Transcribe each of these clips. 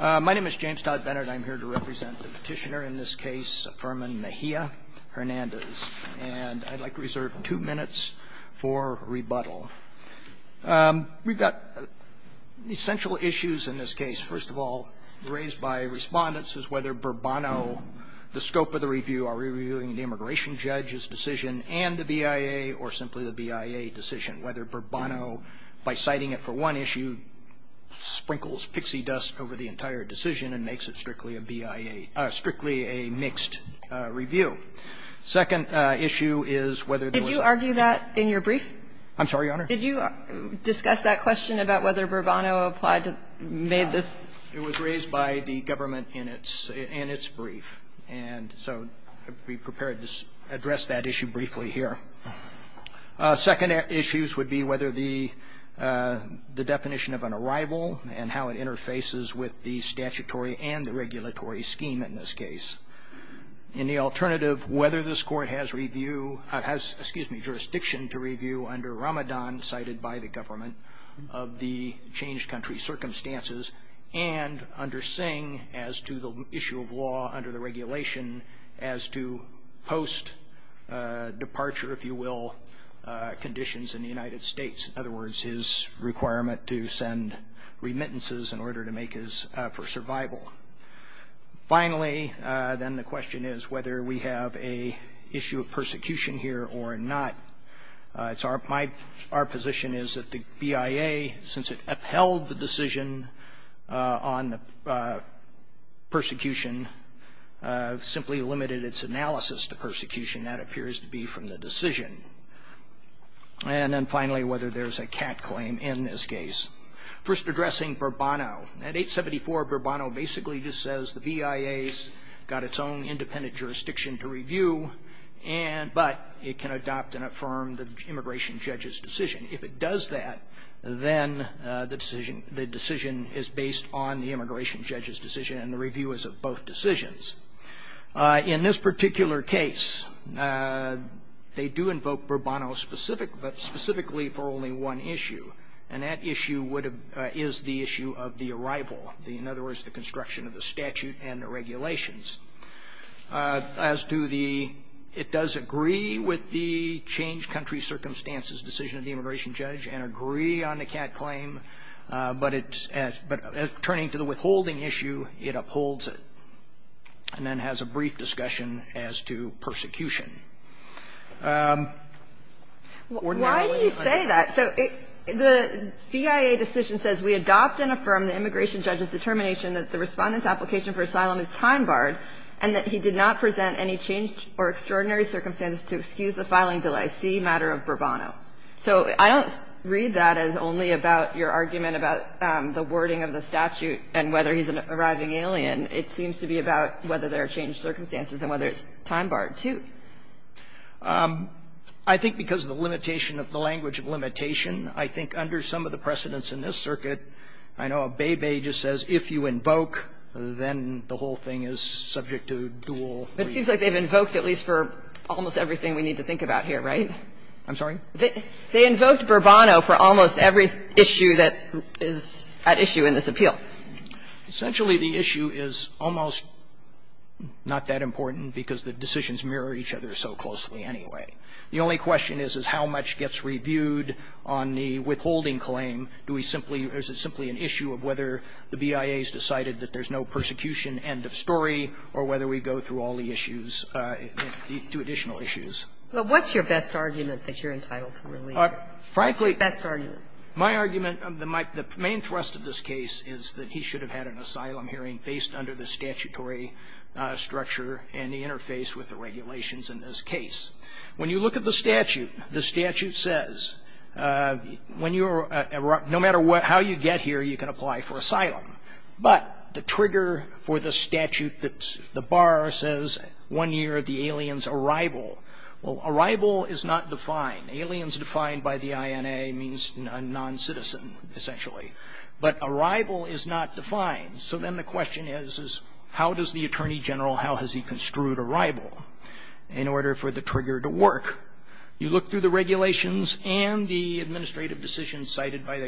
My name is James Dodd-Bennett, and I'm here to represent the petitioner in this case, Affirmin Mejia Hernandez. And I'd like to reserve two minutes for rebuttal. We've got essential issues in this case. First of all, raised by respondents is whether Burbano, the scope of the review, are we reviewing the immigration judge's decision and the BIA or simply the BIA decision, whether Burbano, by citing it for one issue, sprinkles pixie dust over the entire decision and makes it strictly a BIA – strictly a mixed review. Second issue is whether there was – Did you argue that in your brief? I'm sorry, Your Honor? Did you discuss that question about whether Burbano applied to – made this – It was raised by the government in its – in its brief. And so I'd be prepared to address that issue briefly here. Second issues would be whether the definition of an arrival and how it interfaces with the statutory and the regulatory scheme in this case. And the alternative, whether this Court has review – has, excuse me, jurisdiction to review under Ramadan cited by the government of the changed country circumstances and under Singh as to the issue of law under the regulation as to post-departure, if you will, conditions in the United States. In other words, his requirement to send remittances in order to make his – for survival. Finally, then, the question is whether we have an issue of persecution here or not. It's our – my – our position is that the BIA, since it upheld the decision on persecution, simply limited its analysis to persecution. That appears to be from the decision. And then finally, whether there's a cat claim in this case. First, addressing Burbano. At 874, Burbano basically just says the BIA's got its own independent jurisdiction to review and – but it can adopt and affirm the immigration judge's decision. If it does that, then the decision – the decision is based on the immigration judge's decision and the review is of both decisions. In this particular case, they do invoke Burbano specific – but specifically for only one issue, and that issue would have – is the issue of the arrival, in other words, the construction of the statute and the regulations. As to the – it does agree with the changed country circumstances decision of the immigration judge and agree on the cat claim, but it's – but turning to the withholding issue, it upholds it and then has a brief discussion as to persecution. Ordinarily, I would say that. Why do you say that? So it – the BIA decision says we adopt and affirm the immigration judge's determination that the Respondent's application for asylum is time-barred and that he did not present any changed or extraordinary circumstances to excuse the filing de la Cie matter of Burbano. So I don't read that as only about your argument about the wording of the statute and whether he's an arriving alien. It seems to be about whether there are changed circumstances and whether it's time-barred, too. I think because of the limitation of the language of limitation. I think under some of the precedents in this circuit, I know Abebe just says if you invoke, then the whole thing is subject to dual review. But it seems like they've invoked at least for almost everything we need to think about here, right? I'm sorry? They invoked Burbano for almost every issue that is at issue in this appeal. Essentially, the issue is almost not that important because the decisions mirror each other so closely anyway. The only question is, is how much gets reviewed on the withholding claim? Do we simply – is it simply an issue of whether the BIA has decided that there's no persecution end of story or whether we go through all the issues, the two additional issues? But what's your best argument that you're entitled to review? Frankly, my argument, the main thrust of this case is that he should have had an asylum hearing based under the statutory structure and the interface with the regulations in this case. When you look at the statute, the statute says when you're – no matter how you get here, you can apply for asylum. But the trigger for the statute that's – the bar says one year of the alien's arrival. Well, arrival is not defined. Aliens defined by the INA means a non-citizen, essentially. But arrival is not defined. So then the question is, is how does the Attorney General – how has he construed arrival in order for the trigger to work? You look through the regulations and the administrative decisions cited by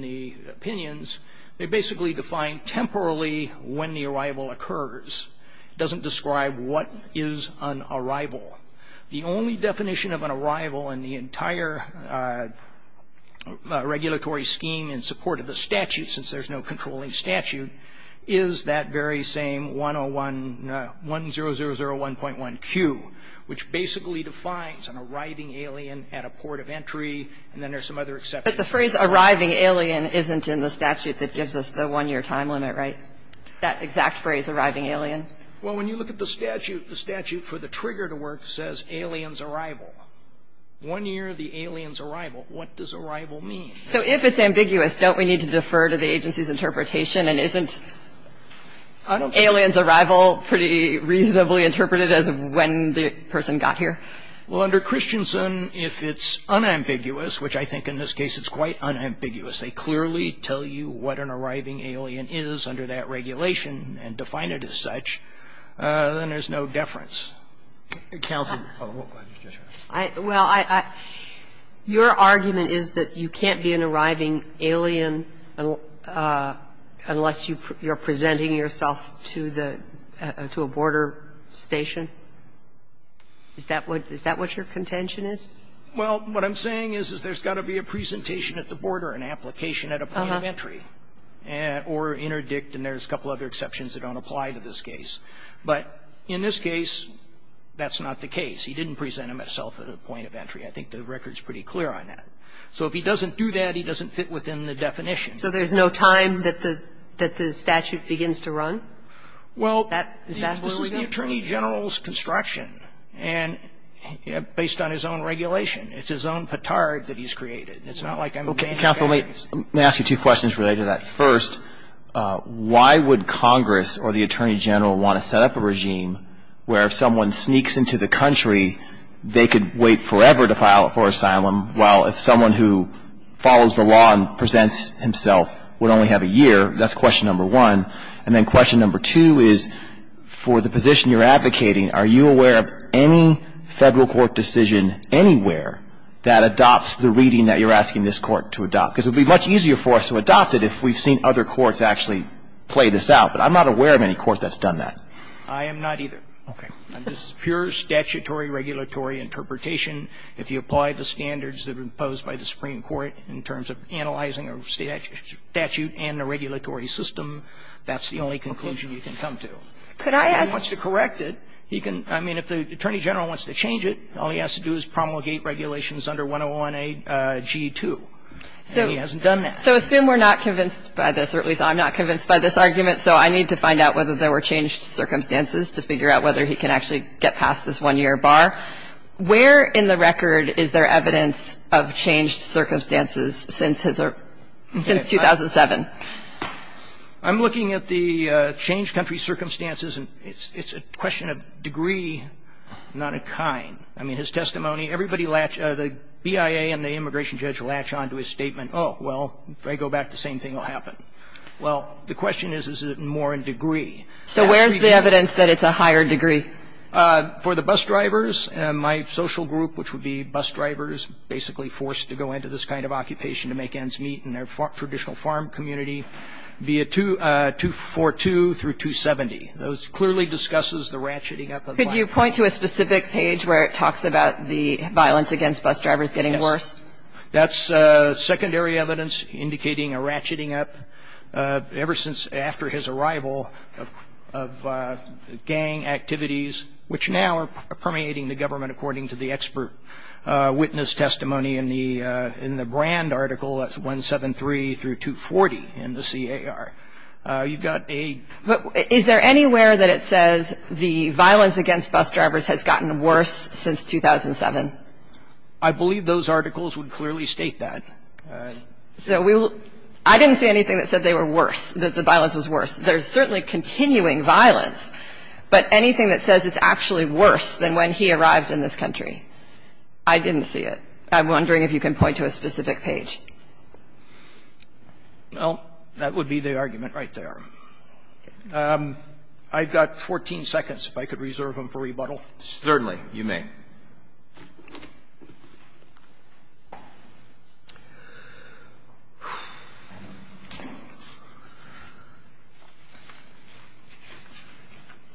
the opinions, they basically define temporarily when the arrival occurs. It doesn't describe what is an arrival. The only definition of an arrival in the entire regulatory scheme in support of the statute, since there's no controlling statute, is that very same 101 – 1001.1Q, which basically defines an arriving alien at a port of entry, and then there's some other exceptions. But the phrase arriving alien isn't in the statute that gives us the one-year time limit, right? That exact phrase, arriving alien. Well, when you look at the statute, the statute for the trigger to work says alien's arrival. One year of the alien's arrival. What does arrival mean? So if it's ambiguous, don't we need to defer to the agency's interpretation and isn't alien's arrival pretty reasonably interpreted as when the person got here? Well, under Christensen, if it's unambiguous, which I think in this case it's quite unambiguous, they clearly tell you what an arriving alien is under that regulation and define it as such, then there's no deference. Counsel. Well, I – your argument is that you can't be an arriving alien unless you're presenting yourself to the – to a border station? Is that what – is that what your contention is? Well, what I'm saying is, is there's got to be a presentation at the border, an application at a point of entry, or interdict, and there's a couple of other exceptions that don't apply to this case. But in this case, that's not the case. He didn't present himself at a point of entry. I think the record's pretty clear on that. So if he doesn't do that, he doesn't fit within the definition. So there's no time that the statute begins to run? Is that where we go? Well, it's the Attorney General's construction, and based on his own regulation. It's his own petard that he's created. It's not like I'm a gang of aliens. Okay. Counsel, let me ask you two questions related to that. First, why would Congress or the Attorney General want to set up a regime where if someone sneaks into the country, they could wait forever to file for asylum, while if someone who follows the law and presents himself would only have a year? That's question number one. And then question number two is, for the position you're advocating, are you aware of any Federal court decision anywhere that adopts the reading that you're asking this Court to adopt? Because it would be much easier for us to adopt it if we've seen other courts actually play this out. But I'm not aware of any court that's done that. I am not either. Okay. This is pure statutory regulatory interpretation. If you apply the standards that are imposed by the Supreme Court in terms of analyzing a statute and a regulatory system, that's the only conclusion you can come to. Could I ask? If he wants to correct it, he can. I mean, if the Attorney General wants to change it, all he has to do is promulgate regulations under 101a.g.2. And he hasn't done that. So assume we're not convinced by this, or at least I'm not convinced by this argument, so I need to find out whether there were changed circumstances to figure out whether he can actually get past this one-year bar. Where in the record is there evidence of changed circumstances since his or since 2007? I'm looking at the changed country circumstances, and it's a question of degree, not a kind. I mean, his testimony, everybody latches, the BIA and the immigration judge latch onto his statement. Oh, well, if I go back, the same thing will happen. Well, the question is, is it more in degree? So where's the evidence that it's a higher degree? For the bus drivers, my social group, which would be bus drivers basically forced to go into this kind of occupation to make ends meet in their traditional farm community, be it 242 through 270, those clearly discusses the ratcheting up of violence. Could you point to a specific page where it talks about the violence against bus drivers getting worse? Yes. That's secondary evidence indicating a ratcheting up ever since after his arrival of gang activities, which now are permeating the government according to the expert witness testimony in the brand article that's 173 through 240 in the CAR. You've got a ---- But is there anywhere that it says the violence against bus drivers has gotten worse since 2007? I believe those articles would clearly state that. So we will ---- I didn't see anything that said they were worse, that the violence was worse. There's certainly continuing violence, but anything that says it's actually worse than when he arrived in this country, I didn't see it. I'm wondering if you can point to a specific page. Well, that would be the argument right there. I've got 14 seconds, if I could reserve them for rebuttal. Certainly. You may.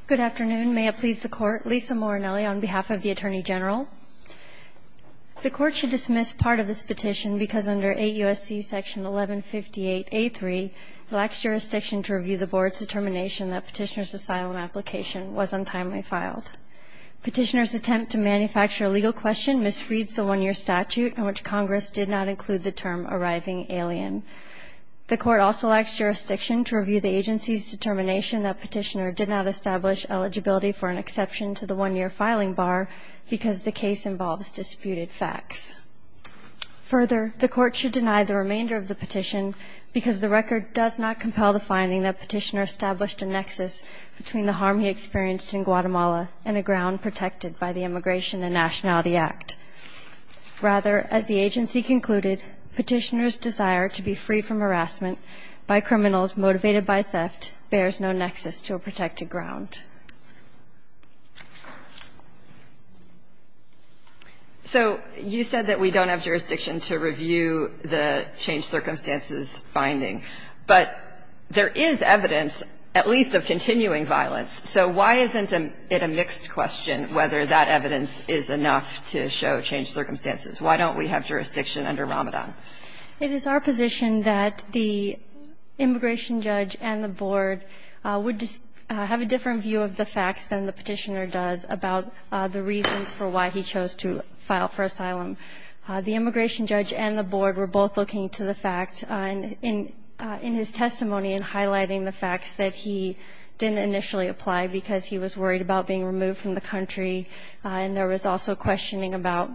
Good afternoon. May it please the Court. Lisa Morinelli on behalf of the Attorney General. The Court should dismiss part of this petition because under 8 U.S.C. section 1158A3, it lacks jurisdiction to review the Board's determination that Petitioner's asylum application was untimely filed. Petitioner's attempt to manufacture a legal question misreads the one-year statute in which Congress did not include the term arriving alien. The Court also lacks jurisdiction to review the agency's determination that Petitioner did not establish eligibility for an exception to the one-year filing bar because the case involves disputed facts. Further, the Court should deny the remainder of the petition because the record does not compel the finding that Petitioner established a nexus between the harm he suffered and a ground protected by the Immigration and Nationality Act. Rather, as the agency concluded, Petitioner's desire to be free from harassment by criminals motivated by theft bears no nexus to a protected ground. So you said that we don't have jurisdiction to review the changed circumstances finding, but there is evidence, at least of continuing violence. So why isn't it a mixed question whether that evidence is enough to show changed circumstances? Why don't we have jurisdiction under Ramadan? It is our position that the immigration judge and the Board would have a different view of the facts than the Petitioner does about the reasons for why he chose to file for asylum. The immigration judge and the Board were both looking to the fact in his testimony and highlighting the facts that he didn't initially apply because he was worried about being removed from the country. And there was also questioning about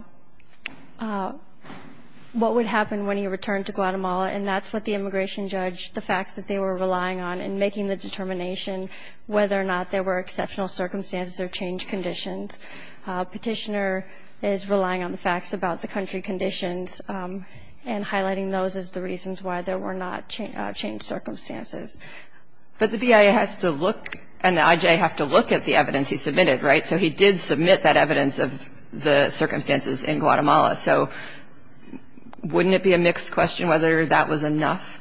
what would happen when he returned to Guatemala, and that's what the immigration judge, the facts that they were relying on in making the determination whether or not there were exceptional circumstances or changed conditions. Petitioner is relying on the facts about the country conditions and highlighting those as the reasons why there were not changed circumstances. But the BIA has to look and the IJA have to look at the evidence he submitted, right? So he did submit that evidence of the circumstances in Guatemala. So wouldn't it be a mixed question whether that was enough?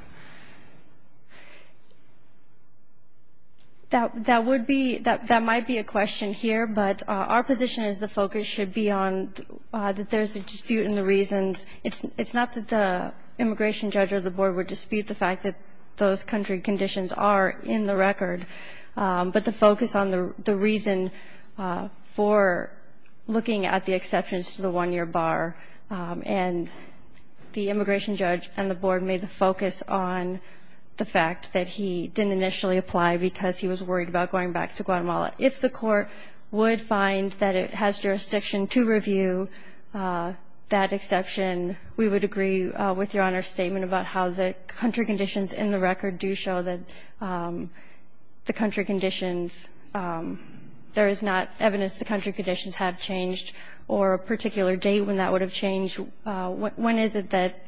That would be – that might be a question here, but our position is the focus should be on that there's a dispute in the reasons. It's not that the immigration judge or the Board would dispute the fact that those country conditions are in the record, but the focus on the reason for looking at the exceptions to the one-year bar. And the immigration judge and the Board made the focus on the fact that he didn't initially apply because he was worried about going back to Guatemala. If the Court would find that it has jurisdiction to review that exception, we would agree with Your Honor's statement about how the country conditions in the record do show that the country conditions – there is not evidence the country conditions have changed or a particular date when that would have changed. When is it that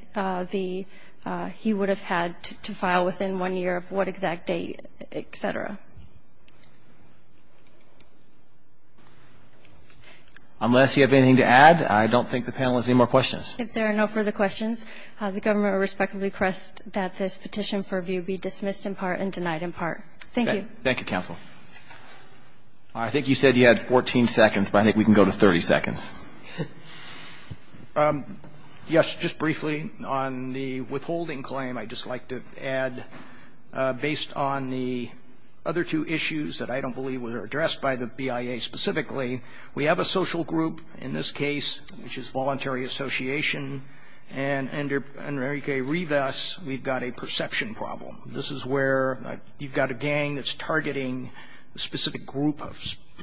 the – he would have had to file within one year of what exact date, et cetera? Unless you have anything to add, I don't think the panel has any more questions. If there are no further questions, the Government would respectfully request that this petition for review be dismissed in part and denied in part. Thank you. Thank you, counsel. I think you said you had 14 seconds, but I think we can go to 30 seconds. Yes, just briefly on the withholding claim. I'd just like to add, based on the other two issues that I don't believe were addressed by the BIA specifically, we have a social group in this case, which is Voluntary Association, and under Enrique Rivas, we've got a perception problem. This is where you've got a gang that's targeting a specific group, a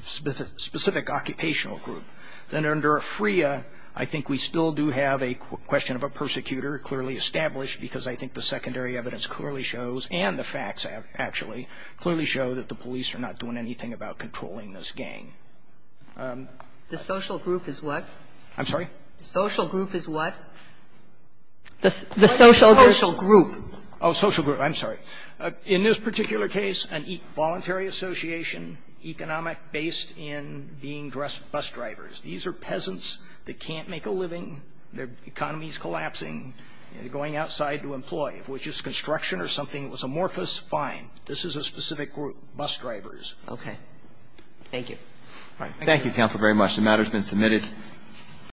specific occupational group. Then under Freya, I think we still do have a question of a persecutor clearly established, because I think the secondary evidence clearly shows, and the facts actually, clearly show that the police are not doing anything about controlling this gang. The social group is what? I'm sorry? The social group is what? The social group. Oh, social group. I'm sorry. In this particular case, a voluntary association, based in being dressed bus drivers. These are peasants that can't make a living. Their economy is collapsing. They're going outside to employ. If it was just construction or something that was amorphous, fine. This is a specific group, bus drivers. Okay. Thank you. All right. Thank you, counsel, very much. The matter has been submitted.